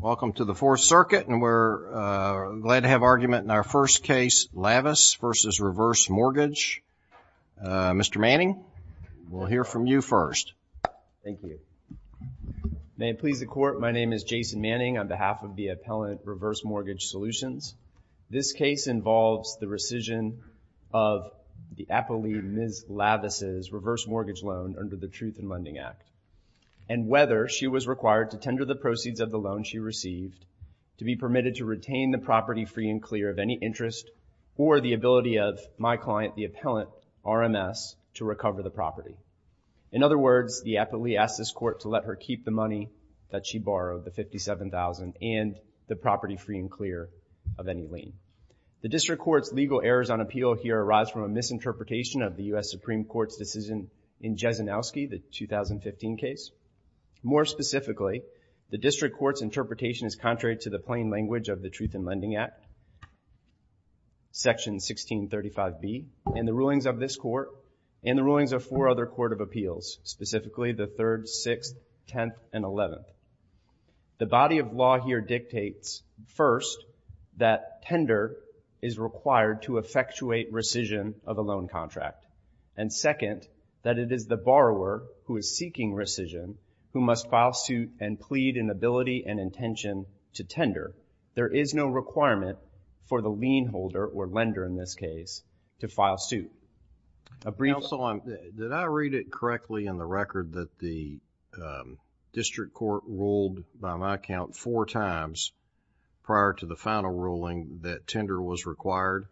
Welcome to the Fourth Circuit, and we're glad to have argument in our first case, Lavis v. Reverse Mortgage. Mr. Manning, we'll hear from you first. Thank you. May it please the Court, my name is Jason Manning on behalf of the appellant Reverse Mortgage Solutions. This case involves the rescission of the appellee, Ms. Lavis's, reverse mortgage loan under the Truth in Lending Act, and whether she was required to tender the proceeds of the loan she received, to be permitted to retain the property free and clear of any interest, or the ability of my client, the appellant, RMS, to recover the property. In other words, the appellee asked this Court to let her keep the money that she borrowed, the $57,000, and the property free and clear of any lien. The District Court's legal errors on appeal here arise from a misinterpretation of the U.S. Supreme Court's decision in Jesenowski, the 2015 case. More specifically, the District Court's interpretation is contrary to the plain language of the Truth in Lending Act, Section 1635B, and the rulings of this Court, and the rulings of four other Court of Appeals, specifically the Third, Sixth, Tenth, and Eleventh. The body of law here dictates, first, that tender is required to effectuate rescission of a loan contract, and second, that it is the borrower who is seeking rescission who must file suit and plead in ability and intention to tender. There is no requirement for the lien holder, or lender in this case, to file suit. A brief... Counsel, did I read it correctly in the record that the District Court ruled, by my count, four times prior to the final ruling that tender was required?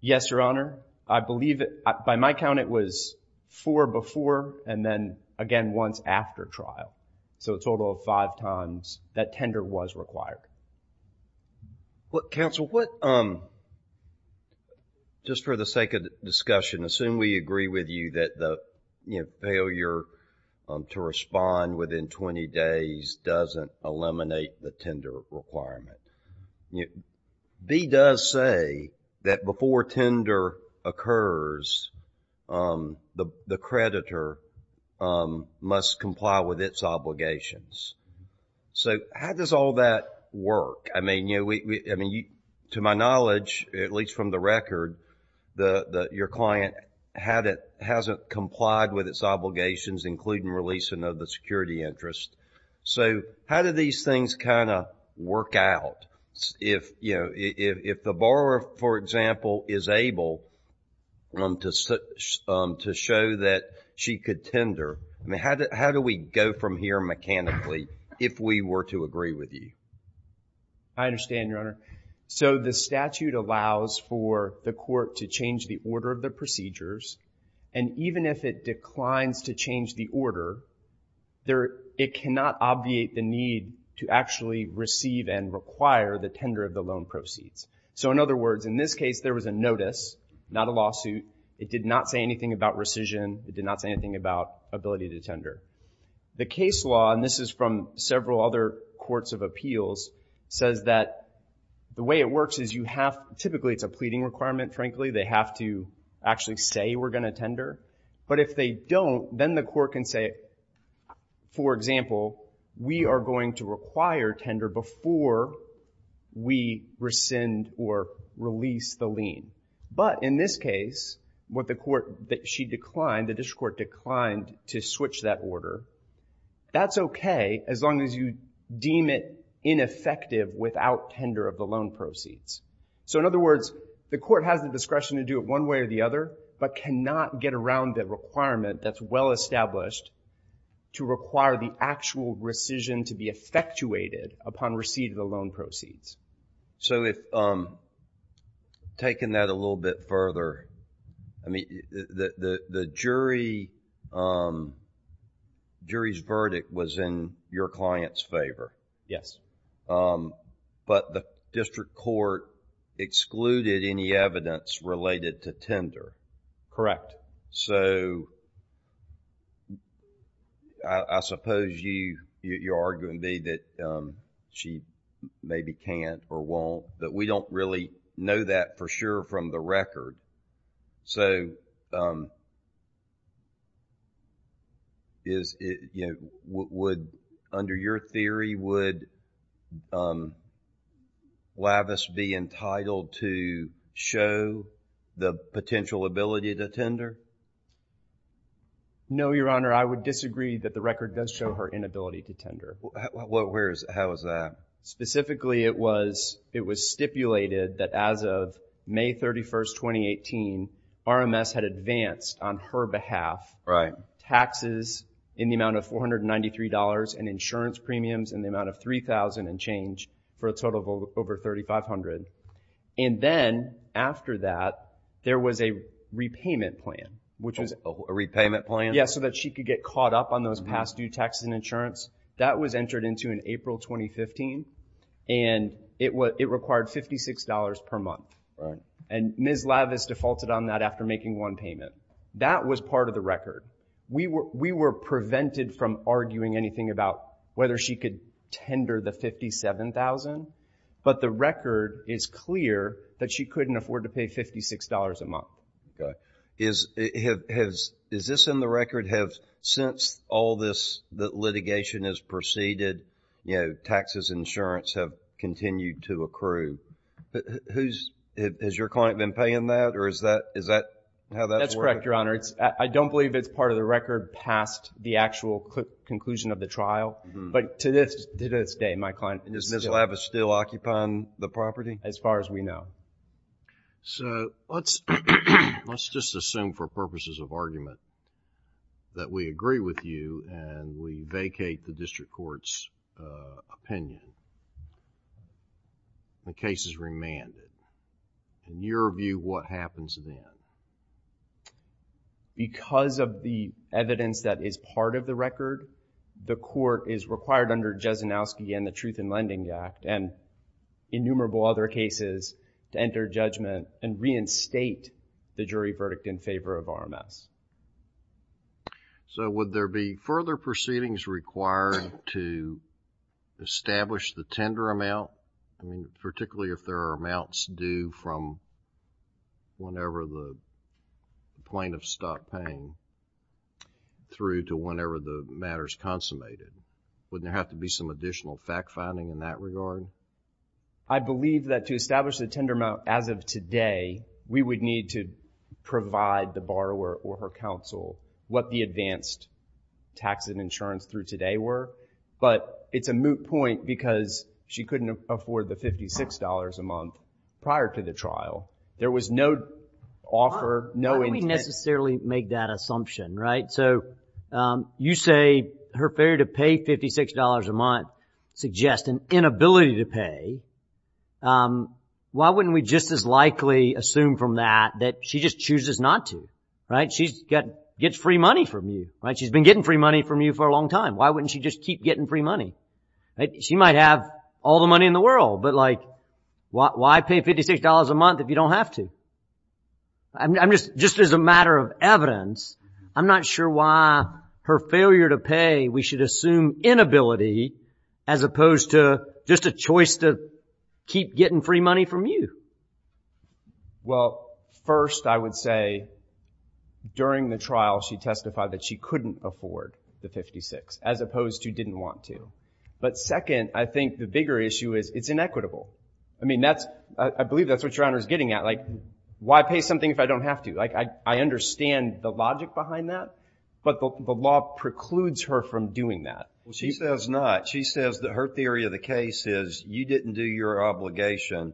Yes, Your Honor. I believe it... by my count, it was four before, and then, again, once after trial. So, a total of five times that tender was required. Counsel, what... just for the sake of discussion, assume we agree with you that the failure to respond within twenty days doesn't eliminate the tender requirement. B does say that before tender occurs, the creditor must comply with its obligations. So, how does all that work? I mean, to my knowledge, at least, your client hasn't complied with its obligations, including releasing of the security interest. So, how do these things kind of work out? If, you know, if the borrower, for example, is able to show that she could tender, how do we go from here mechanically, if we were to agree with you? I understand, Your Honor. So, the statute allows for the court to change the order of the procedures, and even if it declines to change the order, there... it cannot obviate the need to actually receive and require the tender of the loan proceeds. So, in other words, in this case, there was a notice, not a lawsuit. It did not say anything about rescission. It did not say anything about ability to tender. The case law, and this is from several other courts of appeals, says that the way it works is you have... typically, it's a pleading requirement, frankly. They have to actually say, we're going to tender. But if they don't, then the court can say, for example, we are going to require tender before we rescind or release the lien. But in this case, what the court... she declined, the district court declined to switch that order. That's okay, as long as you deem it ineffective without tender of the loan proceeds. So, in other words, the court has the discretion to do it one way or the other, but cannot get around the requirement that's well established to require the actual rescission to be effectuated upon receipt of the loan proceeds. So if... taking that a little bit further, I mean, the jury... jury's verdict was in your client's favor. Yes. But the district court excluded any evidence related to tender. Correct. So, I suppose you're arguing that she maybe can't or won't, but we don't really know that for sure from the record. So, is it... would... under your theory, would Lavis be entitled to show the potential ability to tender? No, Your Honor. I would disagree that the record does show her inability to tender. Well, where is... how is that? Specifically, it was stipulated that as of May 31st, 2018, RMS had advanced on her behalf taxes in the amount of $493 and insurance premiums in the amount of $3,000 and change for a total of over $3,500. And then, after that, there was a repayment plan, which was... A repayment plan? Yes, so that she could get caught up on those past due taxes and insurance. That was entered into in April 2015, and it required $56 per month. And Ms. Lavis defaulted on that after making one payment. That was part of the record. We were prevented from arguing anything about whether she could tender the $57,000, but the record is clear that she couldn't afford to pay $56 a month. Okay. Is this in the record? Since all this litigation has proceeded, you know, taxes and insurance have continued to accrue. Has your client been paying that, or is that... That's correct, Your Honor. I don't believe it's part of the record past the actual conclusion of the trial, but to this day, my client... Is Ms. Lavis still occupying the property? As far as we know. So let's just assume for purposes of argument that we agree with you and we vacate the district court's opinion. The case is remanded. In your view, what happens then? Because of the evidence that is part of the record, the court is required under Jesenowski and the Truth in Lending Act and innumerable other cases to enter judgment and reinstate the jury verdict in favor of RMS. So would there be further proceedings required to establish the tender amount, particularly if there are amounts due from whenever the plaintiff stopped paying through to whenever the matter is consummated? Wouldn't there have to be some additional fact-finding in that regard? I believe that to establish the tender amount as of today, we would need to provide the borrower or her counsel what the advanced tax and insurance through today were. But it's a moot point because she couldn't afford the $56 a month prior to the trial. There was no offer, no intent... So you say her failure to pay $56 a month suggests an inability to pay. Why wouldn't we just as likely assume from that that she just chooses not to? She gets free money from you. She's been getting free money from you for a long time. Why wouldn't she just keep getting free money? She might have all the money in the world, but why pay $56 a month if you don't have to? Just as a matter of evidence, I'm not sure why her failure to pay we should assume inability as opposed to just a choice to keep getting free money from you. Well, first I would say during the trial she testified that she couldn't afford the $56 as opposed to didn't want to. But second, I think the bigger issue is it's inequitable. I mean, I believe that's what your Honor is getting at. Why pay something if I don't have to? I understand the logic behind that, but the law precludes her from doing that. She says not. She says that her theory of the case is you didn't do your obligation,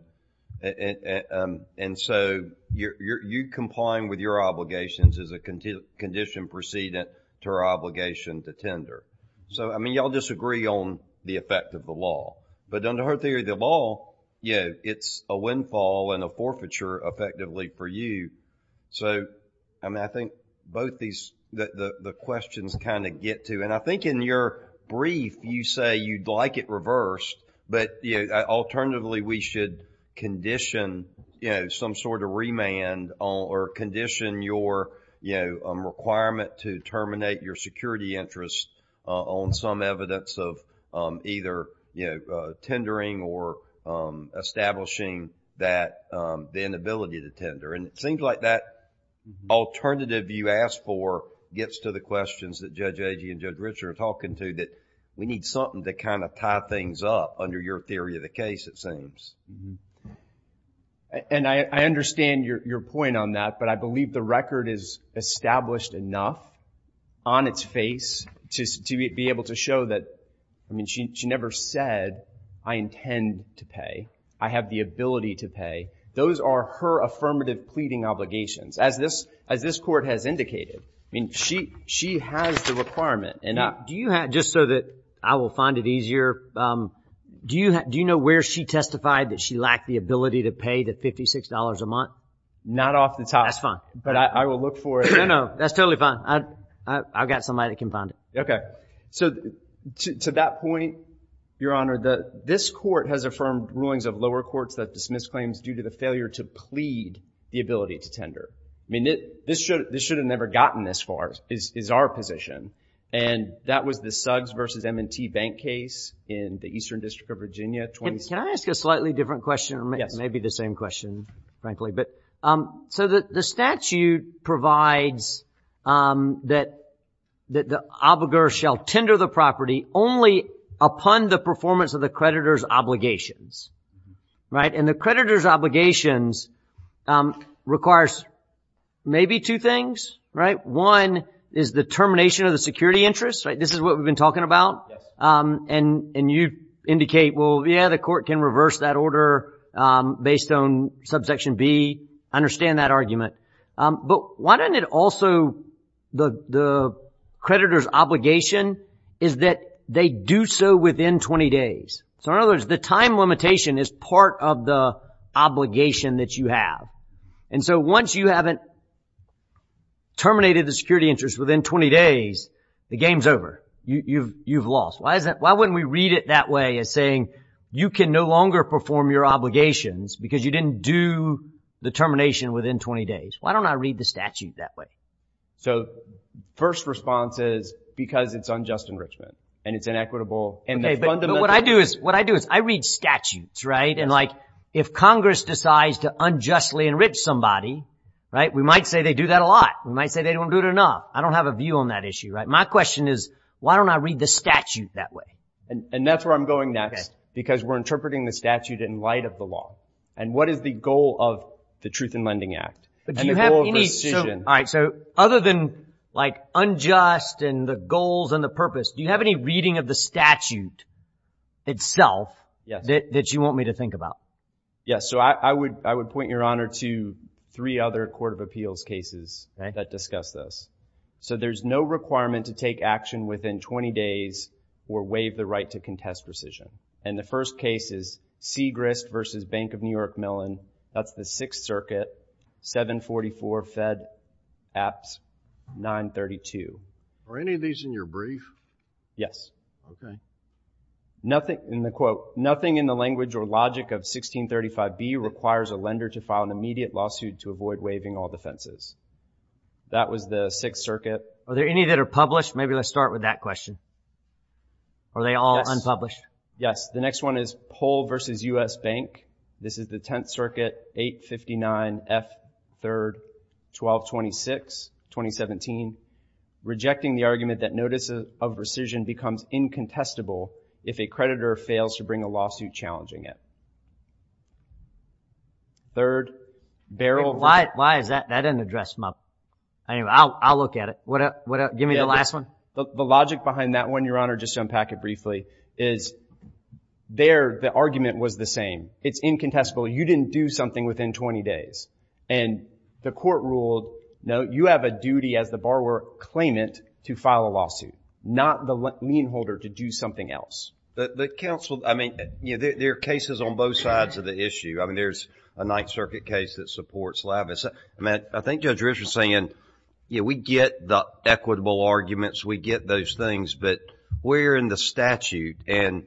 and so you're complying with your obligations as a condition precedent to her obligation to tender. So, I mean, you all disagree on the effect of the law. But under her theory of the law, you know, it's a windfall and a forfeiture effectively for you. So, I mean, I think both these, the questions kind of get to, and I think in your brief you say you'd like it reversed, but, you know, alternatively we should condition, you know, some sort of remand or condition your, you know, requirement to terminate your security interest on some tendering or establishing that, the inability to tender. And it seems like that alternative you asked for gets to the questions that Judge Agee and Judge Richard are talking to, that we need something to kind of tie things up under your theory of the case, it seems. And I understand your point on that, but I believe the record is established enough on its face to be able to show that, I mean, she never said, I intend to pay. I have the ability to pay. Those are her affirmative pleading obligations. As this Court has indicated, I mean, she has the requirement. Now, do you have, just so that I will find it easier, do you know where she testified that she lacked the ability to pay the $56 a month? Not off the top. That's fine. But I will look for it. No, no, that's totally fine. I've got somebody that can find it. Okay. So, to that point, Your Honor, this Court has affirmed rulings of lower courts that dismiss claims due to the failure to plead the ability to tender. I mean, this should have never gotten this far, is our position. And that was the Suggs v. M&T Bank case in the Eastern District of Virginia. Can I ask a slightly different question, maybe the same question, frankly. So, the statute provides that the obligor shall tender the property only upon the performance of the creditor's obligations, right? And the creditor's obligations requires maybe two things, right? One is the termination of the security interest, right? This is what we've been talking about. And you indicate, well, yeah, the Court can reverse that order based on subsection B. I understand that argument. But why doesn't it also, the creditor's obligation is that they do so within 20 days? So, in other words, the time limitation is part of the obligation that you have. And so, once you haven't terminated the security interest within 20 days, the game's over. You've lost. Why wouldn't we read it that way as saying you can no longer perform your obligations because you didn't do the termination within 20 days? Why don't I read the statute that way? So, first response is because it's unjust enrichment and it's inequitable. Okay, but what I do is I read statutes, right? And like if Congress decides to unjustly enrich somebody, right, we might say they do that a lot. We might say they don't do it enough. I don't have a view on that issue, right? My question is why don't I read the statute that way? And that's where I'm going next because we're interpreting the statute in light of the law. And what is the goal of the Truth in Lending Act? But do you have any, so, other than like unjust and the goals and the purpose, do you have any reading of the statute itself that you want me to think about? Yes. So, I would point your honor to three other court of appeals cases that discuss this. So, there's no requirement to take action within 20 days or waive the right to contest rescission. And the first case is Segrist v. Bank of New York-Millan. That's the Sixth Circuit, 744 Fed Apps 932. Are any of these in your brief? Yes. Okay. Nothing in the quote, nothing in the language or logic of 1635B requires a lender to file an immediate lawsuit to avoid waiving all defenses. That was the Sixth Circuit. Are there any that are published? Maybe let's start with that question. Are they all unpublished? Yes. The next one is Pohl v. U.S. Bank. This is the Tenth Circuit, 859 F. 3, 1226, 2017. Rejecting the argument that notice of rescission becomes incontestable if a creditor fails to bring a lawsuit challenging it. Third, Barrel v. Why is that? That doesn't address my point. Anyway, I'll look at it. Give me the last one. The logic behind that one, your honor, just to unpack it briefly, is there the argument was the same. It's incontestable. You didn't do something within 20 days. And the court ruled, no, you have a duty as the borrower claimant to file a lawsuit, not the lien holder to do something else. The counsel, I mean, there are cases on both sides of the issue. I mean, there's a Ninth Circuit case that supports lavish. I think Judge Rich was saying, yeah, we get the equitable arguments. We get those things. But we're in the statute. And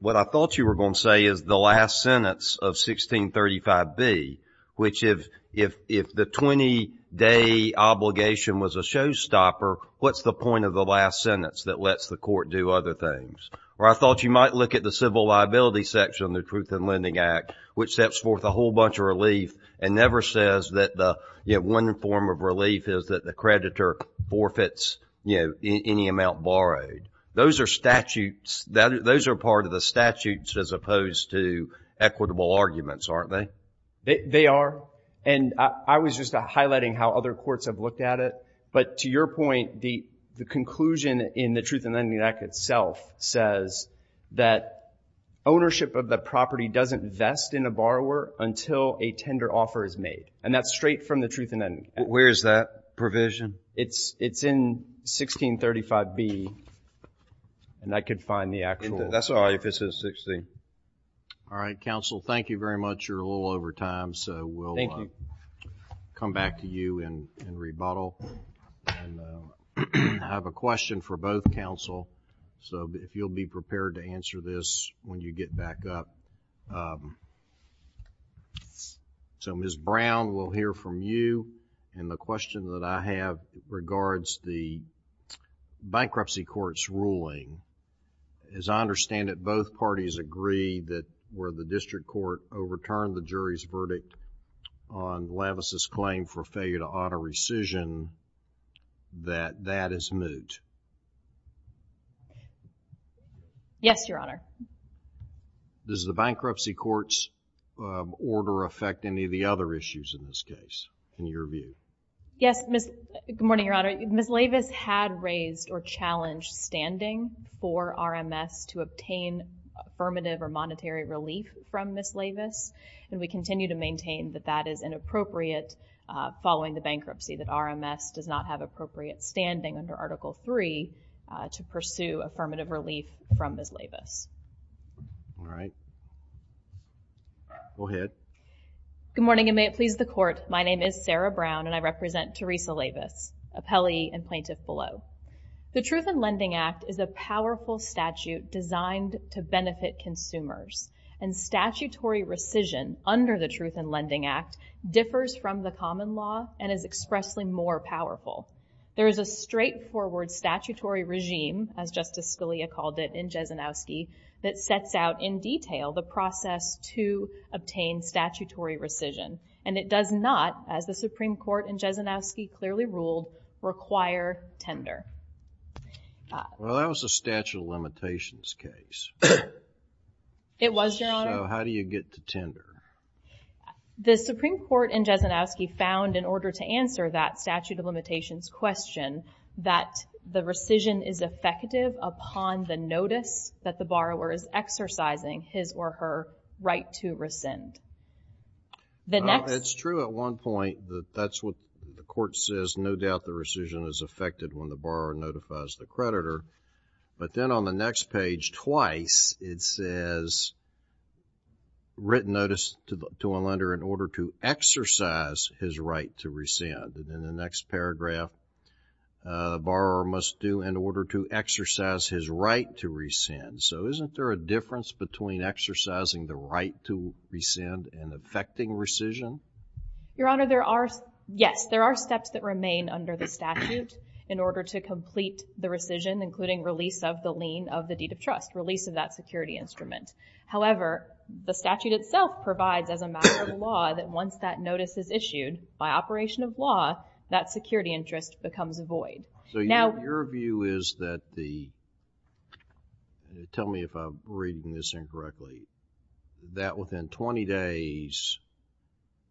what I thought you were going to say is the last sentence of 1635B, which if the 20-day obligation was a showstopper, what's the point of the last sentence that lets the court do other things? Or I thought you might look at the civil liability section of the Truth in Lending Act, which steps forth a whole bunch of relief and never says that the one form of relief is that the creditor forfeits any amount borrowed. Those are statutes. Those are part of the statutes as opposed to equitable arguments, aren't they? They are. And I was just highlighting how other courts have looked at it. But to your point, the conclusion in the Truth in Lending Act itself says that ownership of the property doesn't vest in a borrower until a tender offer is made. And that's straight from the Truth in Lending Act. Where is that provision? It's in 1635B. And I could find the actual. That's all I could see. All right, counsel, thank you very much. You're a little over time, so we'll come back to you in rebuttal. I have a question for both counsel. So, if you'll be prepared to answer this when you get back up. So, Ms. Brown, we'll hear from you. And the question that I have regards the bankruptcy court's ruling. As I understand it, both parties agree that where the district court overturned the jury's verdict on Lavis' claim for failure to auto-rescission, that that is moot. Yes, Your Honor. Does the bankruptcy court's order affect any of the other issues in this case, in your view? Yes. Good morning, Your Honor. Ms. Lavis had raised or challenged standing for RMS to obtain affirmative or monetary relief from Ms. Lavis. And we continue to maintain that that is inappropriate following the bankruptcy, that RMS does not have appropriate standing under Article III to pursue affirmative relief from Ms. Lavis. All right. Go ahead. Good morning, and may it please the Court. My name is Sarah Brown, and I represent Teresa Lavis, appellee and plaintiff below. The Truth in Lending Act is a powerful statute designed to benefit consumers. And statutory rescission under the Truth in Lending Act differs from the common law and is expressly more powerful. There is a straightforward statutory regime, as Justice Scalia called it in Jesenowski, that sets out in detail the process to obtain statutory rescission. And it does not, as the Supreme Court in Jesenowski clearly ruled, require tender. Well, that was a statute of limitations case. It was, Your Honor. So how do you get to tender? The Supreme Court in Jesenowski found in order to answer that statute of limitations question that the rescission is effective upon the notice that the borrower is exercising his or her right to rescind. It's true at one point that that's what the Court says. No doubt the rescission is effective when the borrower notifies the creditor. But then on the next page, twice, it says written notice to a lender in order to exercise his right to rescind. And in the next paragraph, the borrower must do in order to exercise his right to rescind. So isn't there a difference between exercising the right to rescind and effecting rescission? Your Honor, there are, yes, there are steps that remain under the statute in order to complete the rescission, including release of the lien of the deed of trust, release of that security instrument. However, the statute itself provides as a matter of law that once that notice is issued by operation of law, that security interest becomes void. So your view is that the, tell me if I'm reading this incorrectly, that within 20 days,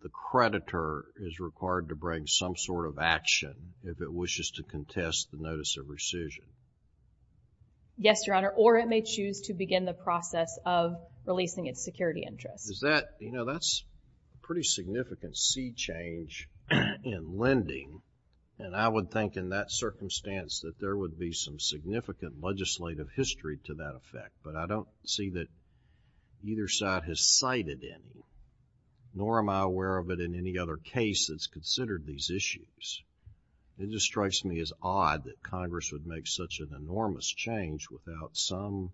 the creditor is required to bring some sort of action if it wishes to contest the notice of rescission? Yes, Your Honor, or it may choose to begin the process of releasing its security interest. Is that, you know, that's a pretty significant sea change in lending. And I would think in that circumstance that there would be some significant legislative history to that effect. But I don't see that either side has cited it, nor am I aware of it in any other case that's considered these issues. It just strikes me as odd that Congress would make such an enormous change without some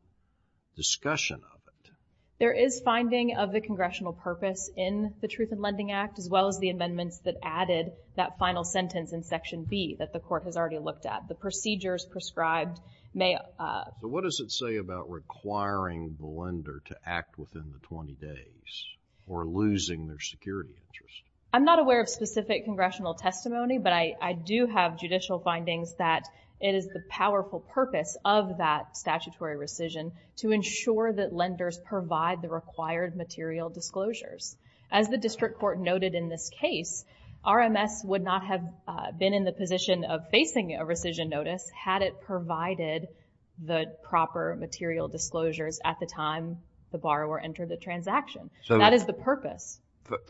discussion of it. There is finding of the congressional purpose in the Truth in Lending Act, as well as the statute that we've already looked at, the procedures prescribed may— What does it say about requiring the lender to act within the 20 days, or losing their security interest? I'm not aware of specific congressional testimony, but I do have judicial findings that it is the powerful purpose of that statutory rescission to ensure that lenders provide the required material disclosures. As the district court noted in this case, RMS would not have been in the position of facing a rescission notice had it provided the proper material disclosures at the time the borrower entered the transaction. That is the purpose.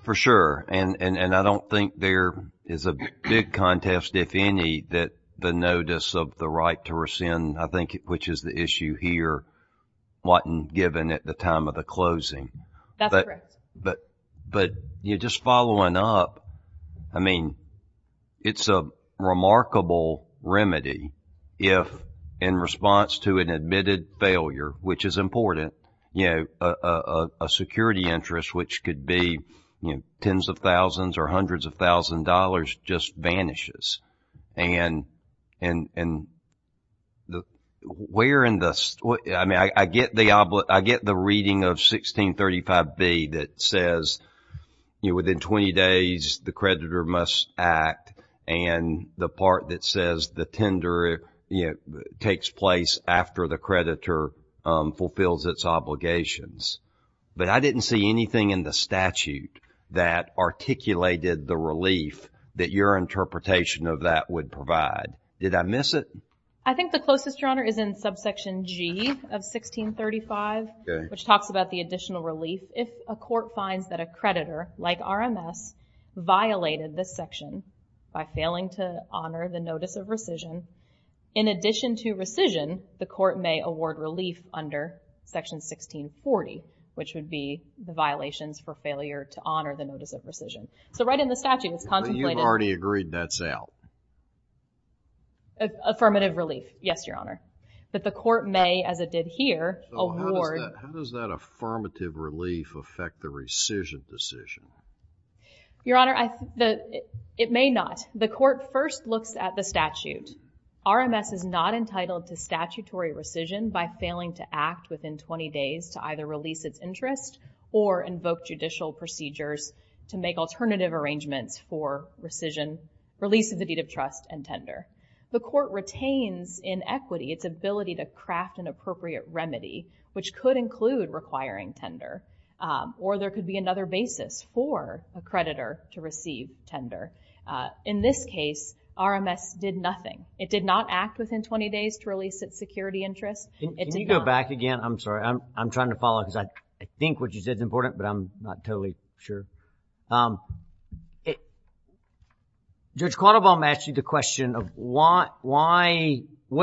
For sure. And I don't think there is a big contest, if any, that the notice of the right to rescind, I think, which is the issue here, wasn't given at the time of the closing. That's correct. But just following up, I mean, it's a remarkable remedy if, in response to an admitted failure, which is important, a security interest, which could be tens of thousands or hundreds of thousands of dollars, just vanishes. And where in the—I mean, I get the reading of 16th 35b that says, you know, within 20 days the creditor must act, and the part that says the tender, you know, takes place after the creditor fulfills its obligations. But I didn't see anything in the statute that articulated the relief that your interpretation of that would provide. Did I miss it? I think the closest, Your Honor, is in subsection G of 1635, which talks about the additional relief if a court finds that a creditor, like RMS, violated this section by failing to honor the notice of rescission. In addition to rescission, the court may award relief under section 1640, which would be the violations for failure to honor the notice of rescission. So right in the statute, it's contemplated— But you've already agreed that's out. Affirmative relief, yes, Your Honor. That the court may, as it did here, award— So how does that affirmative relief affect the rescission decision? Your Honor, it may not. The court first looks at the statute. RMS is not entitled to statutory rescission by failing to act within 20 days to either release its interest or invoke judicial procedures to make alternative arrangements for rescission, release of the deed of trust, and tender. The court retains in equity its ability to craft an appropriate remedy, which could include requiring tender, or there could be another basis for a creditor to receive tender. In this case, RMS did nothing. It did not act within 20 days to release its security interest. Can you go back again? I'm sorry. I'm trying to follow because I think what you said is I'm not totally sure. Judge Quattlebaum asked you the question of what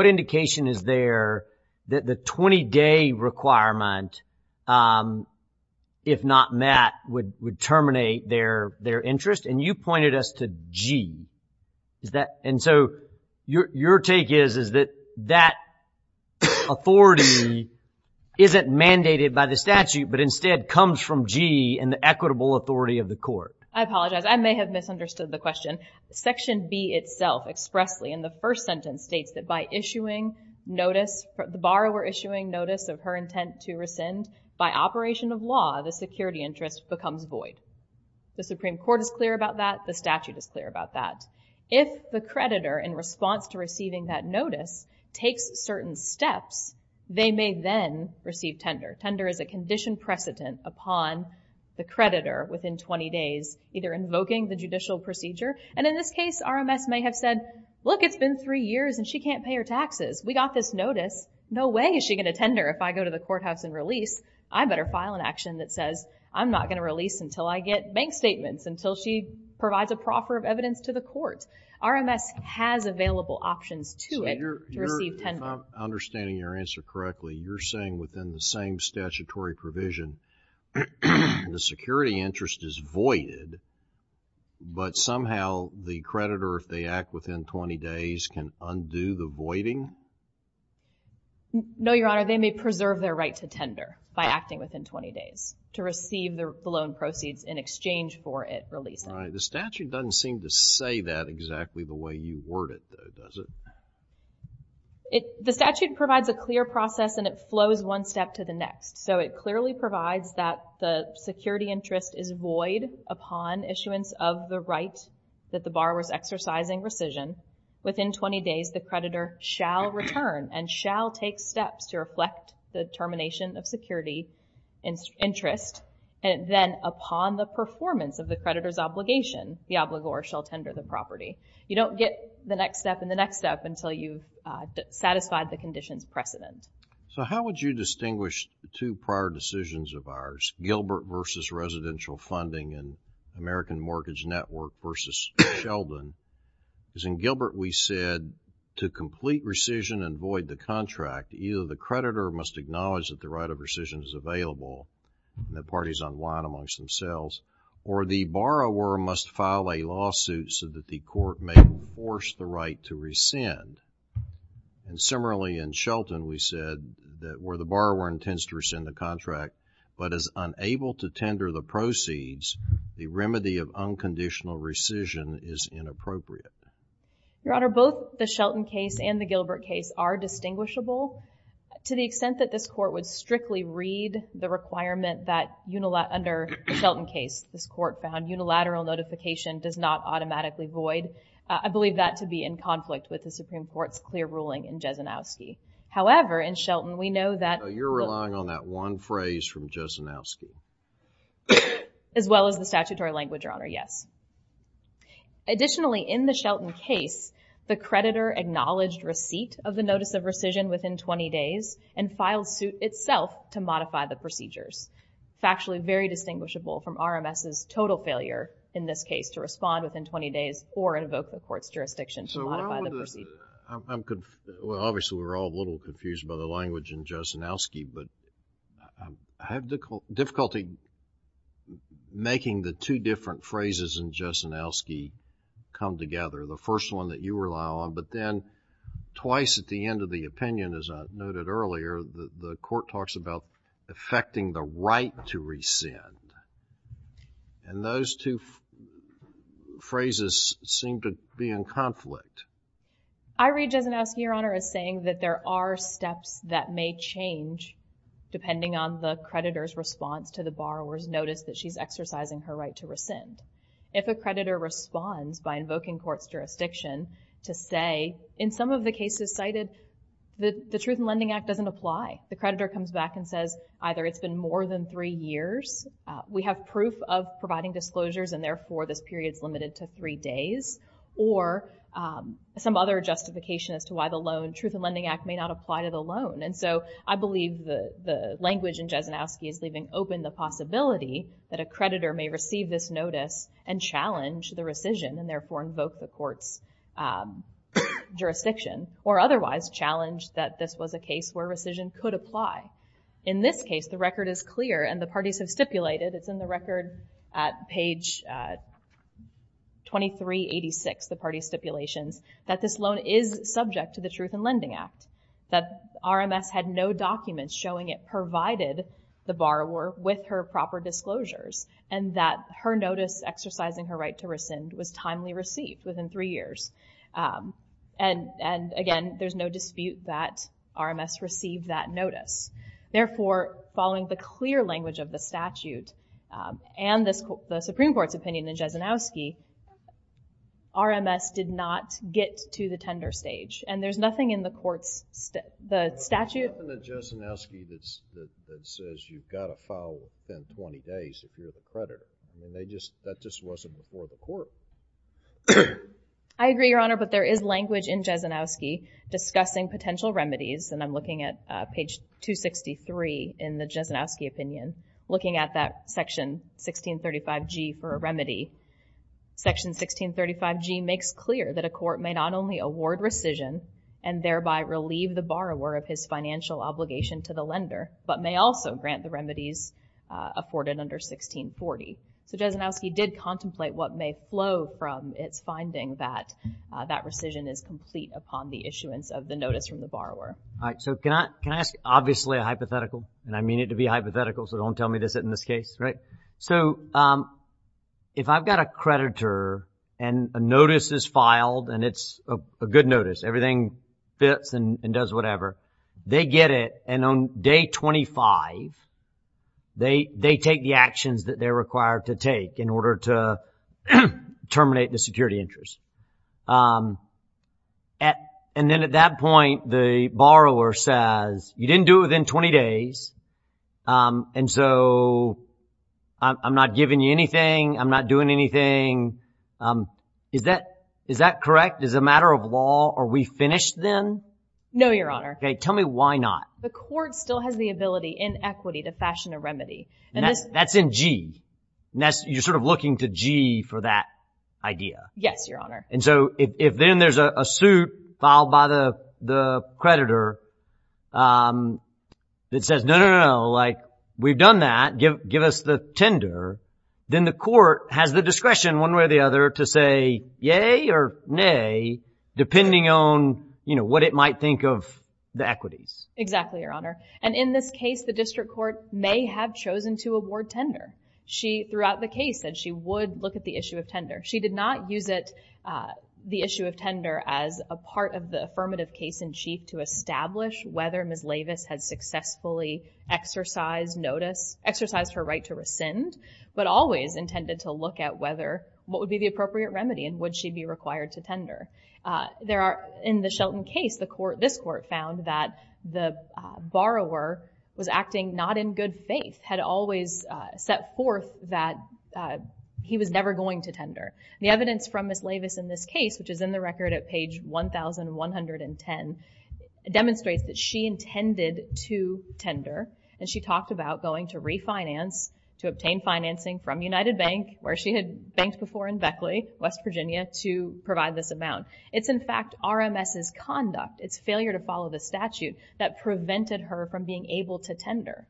indication is there that the 20-day requirement, if not met, would terminate their interest? And you pointed us to G. And so your take is that that authority isn't mandated by the statute but instead comes from G and the equitable authority of the court. I apologize. I may have misunderstood the question. Section B itself expressly in the first sentence states that by issuing notice, the borrower issuing notice of her intent to rescind, by operation of law, the security interest becomes void. The Supreme Court is clear about that. The statute is clear about that. If the creditor, in response to receiving that notice, takes certain steps, they may then receive tender. Tender is a condition precedent upon the creditor within 20 days, either invoking the judicial procedure. And in this case, RMS may have said, look, it's been three years and she can't pay her taxes. We got this notice. No way is she going to tender. If I go to the courthouse and release, I better file an action that says I'm not going to release until I get bank statements, until she provides a proffer of evidence to the court. RMS has available options to it to receive tender. So you're, I'm understanding your answer correctly. You're saying within the same statutory provision, the security interest is voided, but somehow the creditor, if they act within 20 days, can undo the voiding? No, Your Honor. They may preserve their right to tender by acting within 20 days to receive the loan proceeds in exchange for it releasing. The statute doesn't seem to say that exactly the way you word it, though, does it? The statute provides a clear process and it flows one step to the next. So it clearly provides that the security interest is void upon issuance of the right that the borrower is exercising rescission. Within 20 days, the creditor shall return and shall take steps to reflect the termination of security interest. And then upon the performance of the creditor's obligation, the obligor shall tender the property. You don't get the next step and the next step until you've satisfied the condition's precedent. So how would you distinguish two prior decisions of ours, Gilbert v. Residential Funding and American Mortgage Network v. Sheldon? Because in Gilbert, we said to complete rescission and void the contract, either the creditor must acknowledge that the right of rescission is available and the parties unwind amongst themselves, or the borrower must file a lawsuit so that the court may enforce the right to rescind. And similarly in Sheldon, we said that where the borrower intends to rescind the contract but is unable to tender the proceeds, the remedy of unconditional rescission is inappropriate. Your Honor, both the Sheldon case and the Gilbert case are distinguishable. To the extent that this court would strictly read the requirement that under the Sheldon case, this court found unilateral notification does not automatically void, I believe that to be in conflict with the Supreme Court's clear ruling in Jesenowski. However, in Sheldon, we know that You're relying on that one phrase from Jesenowski. as well as the statutory language, Your Honor, yes. Additionally, in the Sheldon case, the creditor acknowledged receipt of the notice of rescission within 20 days and filed suit itself to modify the procedures. Factually, very distinguishable from RMS's total failure in this case to respond within 20 days or invoke the court's jurisdiction to modify the proceedings. Well, obviously, we're all a little confused by the language in Jesenowski, but I have difficulty making the two different phrases in Jesenowski come together. The first one that you rely on, but then twice at the end of the opinion, as I noted earlier, the court talks about effecting the right to rescind, and those two phrases seem to be in conflict. I read Jesenowski, Your Honor, as saying that there are steps that may change depending on the creditor's response to the borrower's notice that she's exercising her right to rescind. If a creditor responds by invoking court's jurisdiction to say, in some of the cases cited, the Truth in Lending Act doesn't apply. The creditor comes back and says, either it's been more than three years, we have proof of providing disclosures, and therefore this period's limited to three days, or some other justification as to why the Loan Truth in Lending Act, which in Jesenowski is leaving open the possibility that a creditor may receive this notice and challenge the rescission, and therefore invoke the court's jurisdiction, or otherwise challenge that this was a case where rescission could apply. In this case, the record is clear, and the parties have stipulated, it's in the record at page 2386, the party stipulations, that this loan is subject to the Truth in Lending Act, that the borrower with her proper disclosures, and that her notice exercising her right to rescind was timely received within three years. And again, there's no dispute that RMS received that notice. Therefore, following the clear language of the statute and the Supreme Court's opinion in Jesenowski, RMS did not get to the tender stage, and there's nothing in the court's statute. There's nothing in Jesenowski that says you've got to file within 20 days if you're the creditor. That just wasn't before the court. I agree, Your Honor, but there is language in Jesenowski discussing potential remedies, and I'm looking at page 263 in the Jesenowski opinion, looking at that section 1635G for a remedy. Section 1635G makes clear that a court may not only award rescission and thereby relieve the borrower of his financial obligation to the lender, but may also grant the remedies afforded under 1640. So Jesenowski did contemplate what may flow from its finding that that rescission is complete upon the issuance of the notice from the borrower. All right. So can I ask, obviously, a hypothetical, and I mean it to be hypothetical, so don't tell me to sit in this case, right? So if I've got a creditor, and a notice is filed, and it's a good notice, everything fits and does whatever, they get it, and on day 25, they take the actions that they're required to take in order to terminate the security interest. And then at that point, the borrower says, you didn't do it within 20 days, and so I'm not giving you anything, I'm not doing anything. Is that correct? Is it a matter of law? Are we finished then? No, Your Honor. Okay. Tell me why not. The court still has the ability in equity to fashion a remedy. That's in G. You're sort of looking to G for that idea. Yes, Your Honor. And in this case, the district court may have chosen to award tender. She, throughout the case, said she would look at the issue of tender. She did not use it, the issue of tender, as a part of the affirmative case-in-chief to establish whether Ms. Lavis had successfully exercised notice, exercised her right to rescind, but always intended to look at whether, what would be the appropriate remedy, and would she be required to tender. There are, in the Shelton case, the court, this court, found that the borrower was acting not in good faith, had always set forth that he was never going to tender. The evidence from Ms. Lavis in this case, which is in the record at page 1110, demonstrates that she intended to tender, and she talked about going to refinance, to obtain financing from United Bank, where she had banked before in Beckley, West Virginia, to provide this amount. It's in fact RMS's conduct, its failure to follow the statute, that prevented her from being able to tender.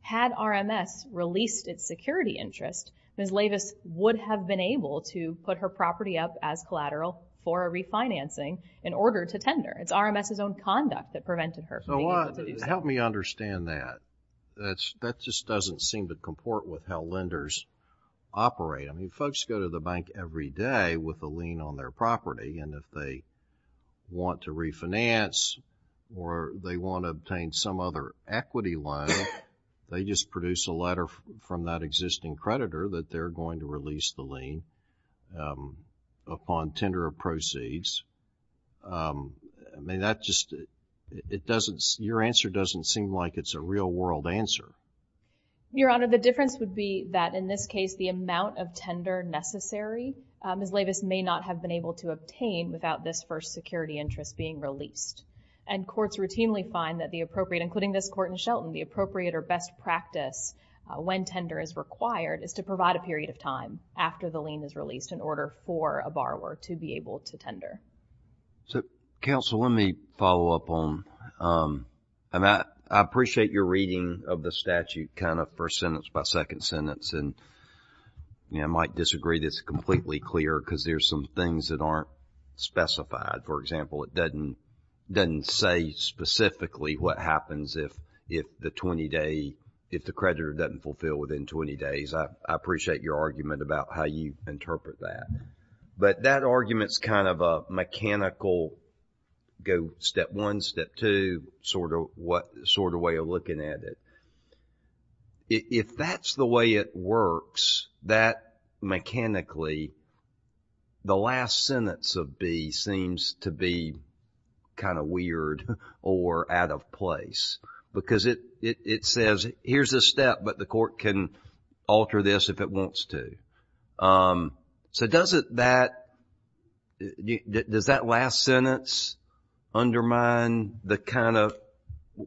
Had RMS released its security interest, Ms. Lavis would have been to put her property up as collateral for a refinancing in order to tender. It's RMS's own conduct that prevented her from being able to do so. Help me understand that. That's, that just doesn't seem to comport with how lenders operate. I mean, folks go to the bank every day with a lien on their property, and if they want to refinance, or they want to obtain some other equity loan, they just produce a letter from that existing creditor that they're going to release the lien upon tender of proceeds. I mean, that just, it doesn't, your answer doesn't seem like it's a real world answer. Your Honor, the difference would be that in this case, the amount of tender necessary, Ms. Lavis may not have been able to obtain without this first security interest being released. And courts routinely find that the appropriate, including this court in Shelton, the appropriate or best practice when tender is required is to provide a period of time after the lien is released in order for a borrower to be able to tender. So, counsel, let me follow up on, I appreciate your reading of the statute kind of first sentence by second sentence, and I might disagree that it's completely clear because there's some things that aren't specified. For example, it doesn't say specifically what happens if the 20-day, if the creditor doesn't fulfill within 20 days. I appreciate your argument about how you interpret that. But that argument's kind of a mechanical, go step one, step two, sort of what, sort of way of looking at it. If that's the way it works, that mechanically, the last sentence of B seems to be kind of weird or out of place because it says, here's a step, but the court can alter this if it wants to. So, does it, that, does that last sentence undermine the kind of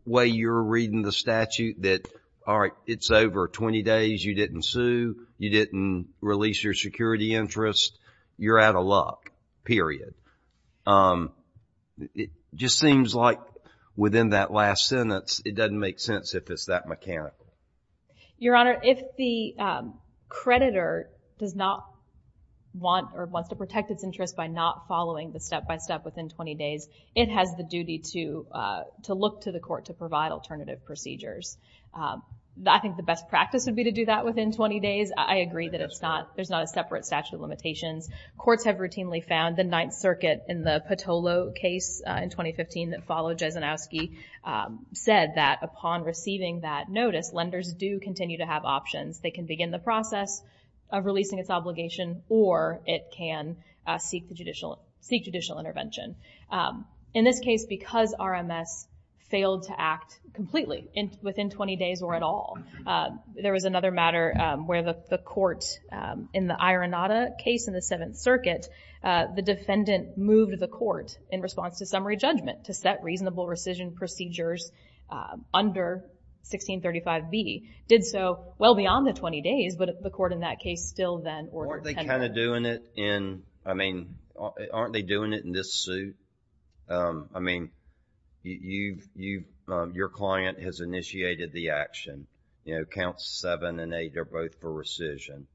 way you're reading the statute that, all right, it's over 20 days, you didn't sue, you didn't release your security interest, you're out of luck, period. It just seems like within that last sentence, it doesn't make sense if it's that mechanical. Your Honor, if the creditor does not want or wants to protect its interest by not following the step-by-step within 20 days, it has the duty to look to the court to provide alternative procedures. I think the best practice would be to do that within 20 days. I agree that it's not, there's not a separate statute of limitations. Courts have routinely found, the Ninth Circuit in the Patolo case in 2015 that followed Jesenowski, said that upon receiving that notice, lenders do continue to have options. They can begin the process of releasing its obligation or it can seek the judicial, seek judicial intervention. In this case, because RMS failed to act completely within 20 days or at all, there was another matter where the court in the Ironata case in the Seventh Circuit, the defendant moved the court in response to summary judgment to set reasonable rescission procedures under 1635B, did so well beyond the 20 days, but the court in that case still then ordered. Aren't they kind of doing it in, I mean, you, you, your client has initiated the action, you know, counts seven and eight are both for rescission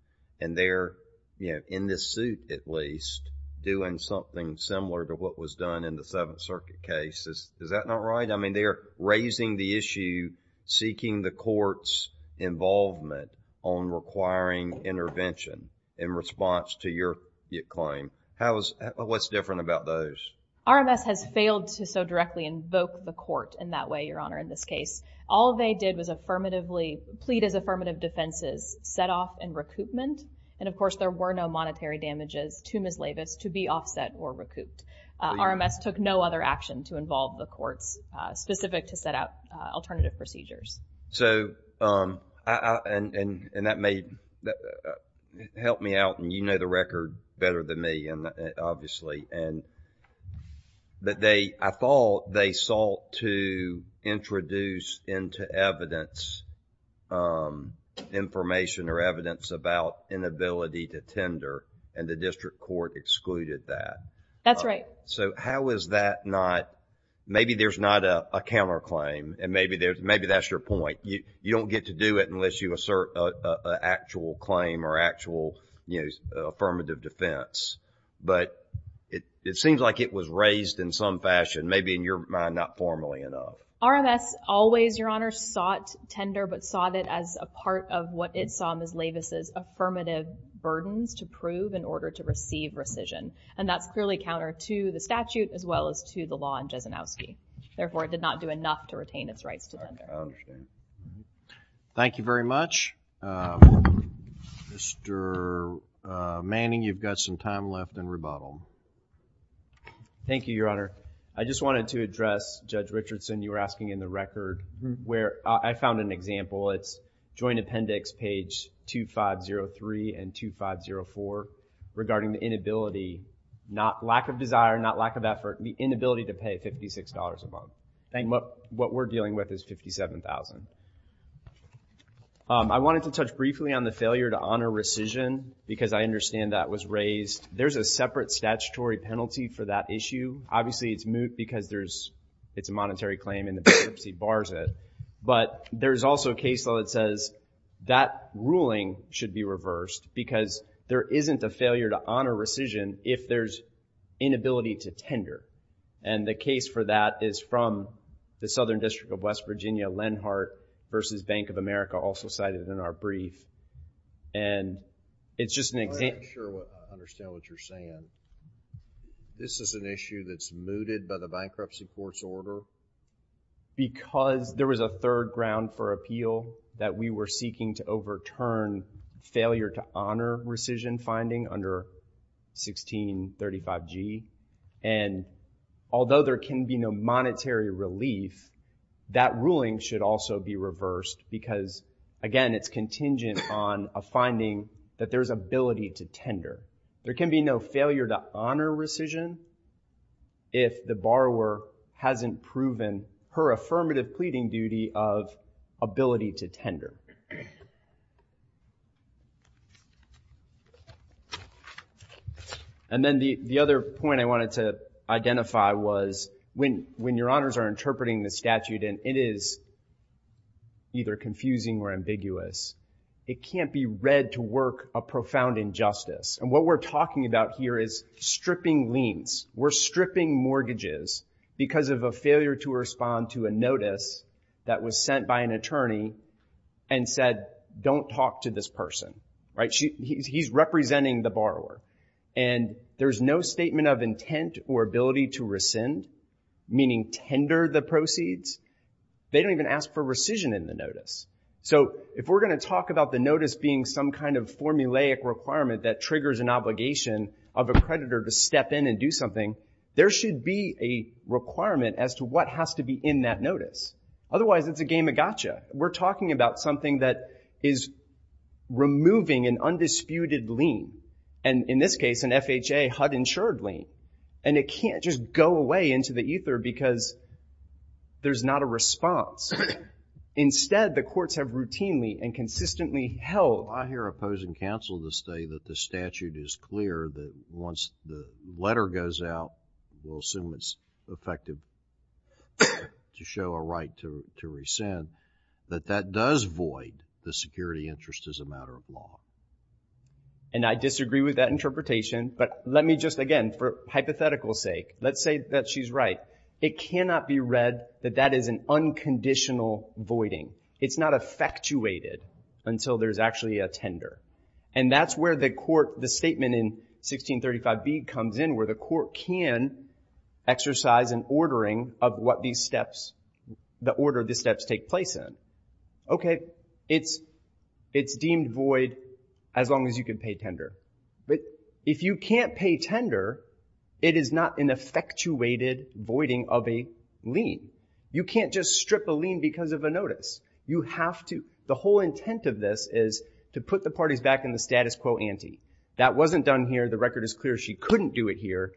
and they're, you know, in this suit at least, doing something similar to what was done in the Seventh Circuit case. Is that not right? I mean, they're raising the issue, seeking the court's involvement on requiring intervention in response to your claim. How is, what's different about those? RMS has failed to so directly invoke the court in that way, Your Honor, in this case. All they did was affirmatively, plead as affirmative defenses, set off and recoupment, and of course, there were no monetary damages to Ms. Leavis to be offset or recouped. RMS took no other action to involve the courts specific to set out alternative procedures. So, um, I, I, and, and, and that may help me out and you know the record better than me, and obviously, and that they, I thought they sought to introduce into evidence, information or evidence about inability to tender and the district court excluded that. That's right. So, how is that not, maybe there's not a counterclaim and maybe there's, maybe that's your point. You, you don't get to do it unless you assert an actual claim or actual, you know, affirmative defense. But it, it seems like it was raised in some fashion, maybe in your mind, not formally enough. RMS always, Your Honor, sought tender but sought it as a part of what it saw Ms. Leavis' affirmative burdens to prove in order to receive rescission. And that's clearly counter to the statute as well as to the law in Jesenowski. Therefore, it did not do enough to retain its rights to tender. Thank you very much. Mr. Manning, you've got some time left in rebuttal. Thank you, Your Honor. I just wanted to address, Judge Richardson, you were asking in the record where I found an example. It's joint appendix page 2503 and 2504 regarding the inability, not lack of desire, not lack of effort, the inability to pay $56 a month. I think what we're dealing with is $57,000. I wanted to touch briefly on the failure to honor rescission because I understand that was raised. There's a separate statutory penalty for that issue. Obviously, it's moot because there's, it's a monetary claim and the bankruptcy bars it. But there's also a case law that says that ruling should be reversed because there isn't a failure to honor rescission if there's inability to tender. And the case for that is from the Southern District of West Virginia, Lenhart v. Bank of America, also cited in our brief. And it's just an example. I'm not sure I understand what you're saying. This is an issue that's mooted by the bankruptcy court's order? Because there was a third ground for appeal that we were seeking to 1635G. And although there can be no monetary relief, that ruling should also be reversed because, again, it's contingent on a finding that there's ability to tender. There can be no failure to honor rescission if the borrower hasn't proven her affirmative pleading duty of ability to tender. And then the other point I wanted to identify was when your honors are interpreting the statute, and it is either confusing or ambiguous, it can't be read to work a profound injustice. And what we're talking about here is stripping liens. We're stripping mortgages because of a failure to respond to a notice that was sent by an attorney and said, don't talk to this person. He's representing the borrower. And there's no statement of intent or ability to rescind, meaning tender the proceeds. They don't even ask for rescission in the notice. So if we're going to talk about the notice being some kind of formulaic requirement that triggers an obligation of a creditor to step in and do something, there should be a requirement as to what has to be in that notice. Otherwise, it's a game of gotcha. We're talking about something that is removing an undisputed lien. And in this case, an FHA HUD-insured lien. And it can't just go away into the ether because there's not a response. Instead, the courts have routinely and consistently held. I hear opposing counsel to say that the statute is clear that once the letter goes out, we'll assume it's effective to show a right to rescind, that that does void the security interest as a matter of law. And I disagree with that interpretation. But let me just, again, for hypothetical sake, let's say that she's right. It cannot be read that that is an unconditional voiding. It's not effectuated until there's actually a tender. And that's where the court, the statement in 1635b comes in where the court can exercise an ordering of what these steps, the order the steps take place in. Okay, it's deemed void as long as you can pay tender. But if you can't pay tender, it is not an effectuated voiding of a lien. You can't just strip a lien because of a notice. You have to, the whole intent of this is to put the parties back in the status quo ante. That wasn't done here. The record is clear she couldn't do it here.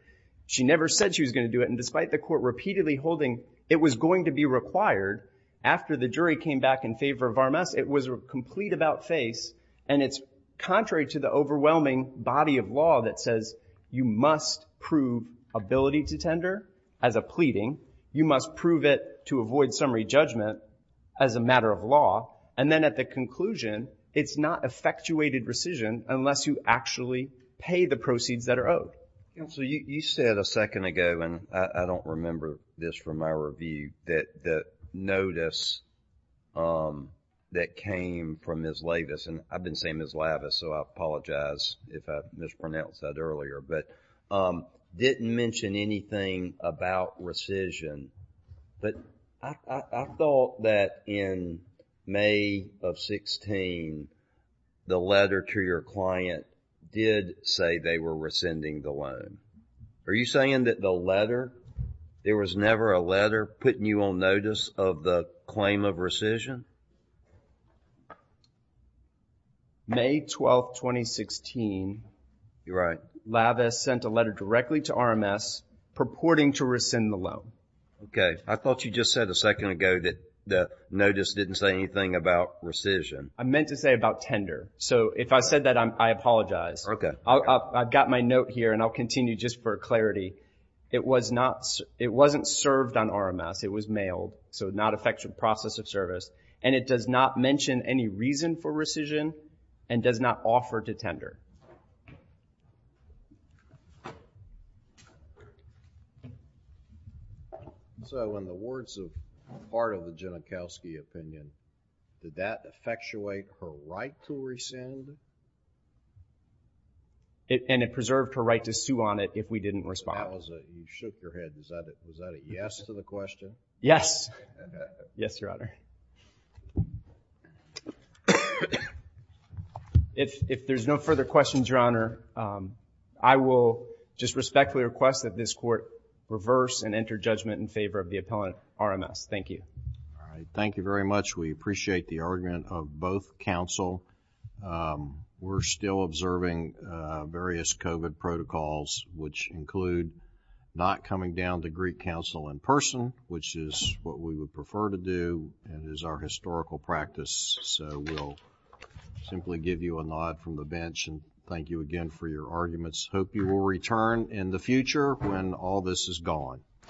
She never said she was going to do it. And despite the court repeatedly holding it was going to be required after the jury came back in favor of Varmus, it was a complete about face. And it's contrary to the overwhelming body of law that says you must prove ability to tender as a pleading. You must prove it to avoid summary judgment as a matter of law. And then at the unless you actually pay the proceeds that are owed. So you said a second ago, and I don't remember this from my review, that notice that came from Ms. Lavis, and I've been saying Ms. Lavis, so I apologize if I mispronounced that earlier, but didn't mention anything about rescission. But I thought that in May of 16, the letter to your client did say they were rescinding the loan. Are you saying that the letter, there was never a letter putting you on notice of the claim of rescission? May 12, 2016. You're right. Lavis sent a letter directly to RMS purporting to rescind the loan. Okay. I thought you just said a second ago that the notice didn't say anything about rescission. I meant to say about tender. So if I said that, I apologize. Okay. I've got my note here, and I'll continue just for clarity. It wasn't served on RMS. It was mailed, so not affected process of service. And it does not mention any reason for rescission and does not offer to tender. Okay. So in the words of part of the Genachowski opinion, did that effectuate her right to rescind? And it preserved her right to sue on it if we didn't respond. You shook your head. Was that a yes to the question? Yes. Yes, Your Honor. If there's no further questions, Your Honor, I will just respectfully request that this court reverse and enter judgment in favor of the appellant, RMS. Thank you. All right. Thank you very much. We appreciate the argument of both counsel. We're still observing various COVID protocols, which include not coming down to Greek counsel in person, which is what we would prefer to do, and we're still observing various COVID protocols. It is our historical practice, so we'll simply give you a nod from the bench and thank you again for your arguments. Hope you will return in the future when all this is gone.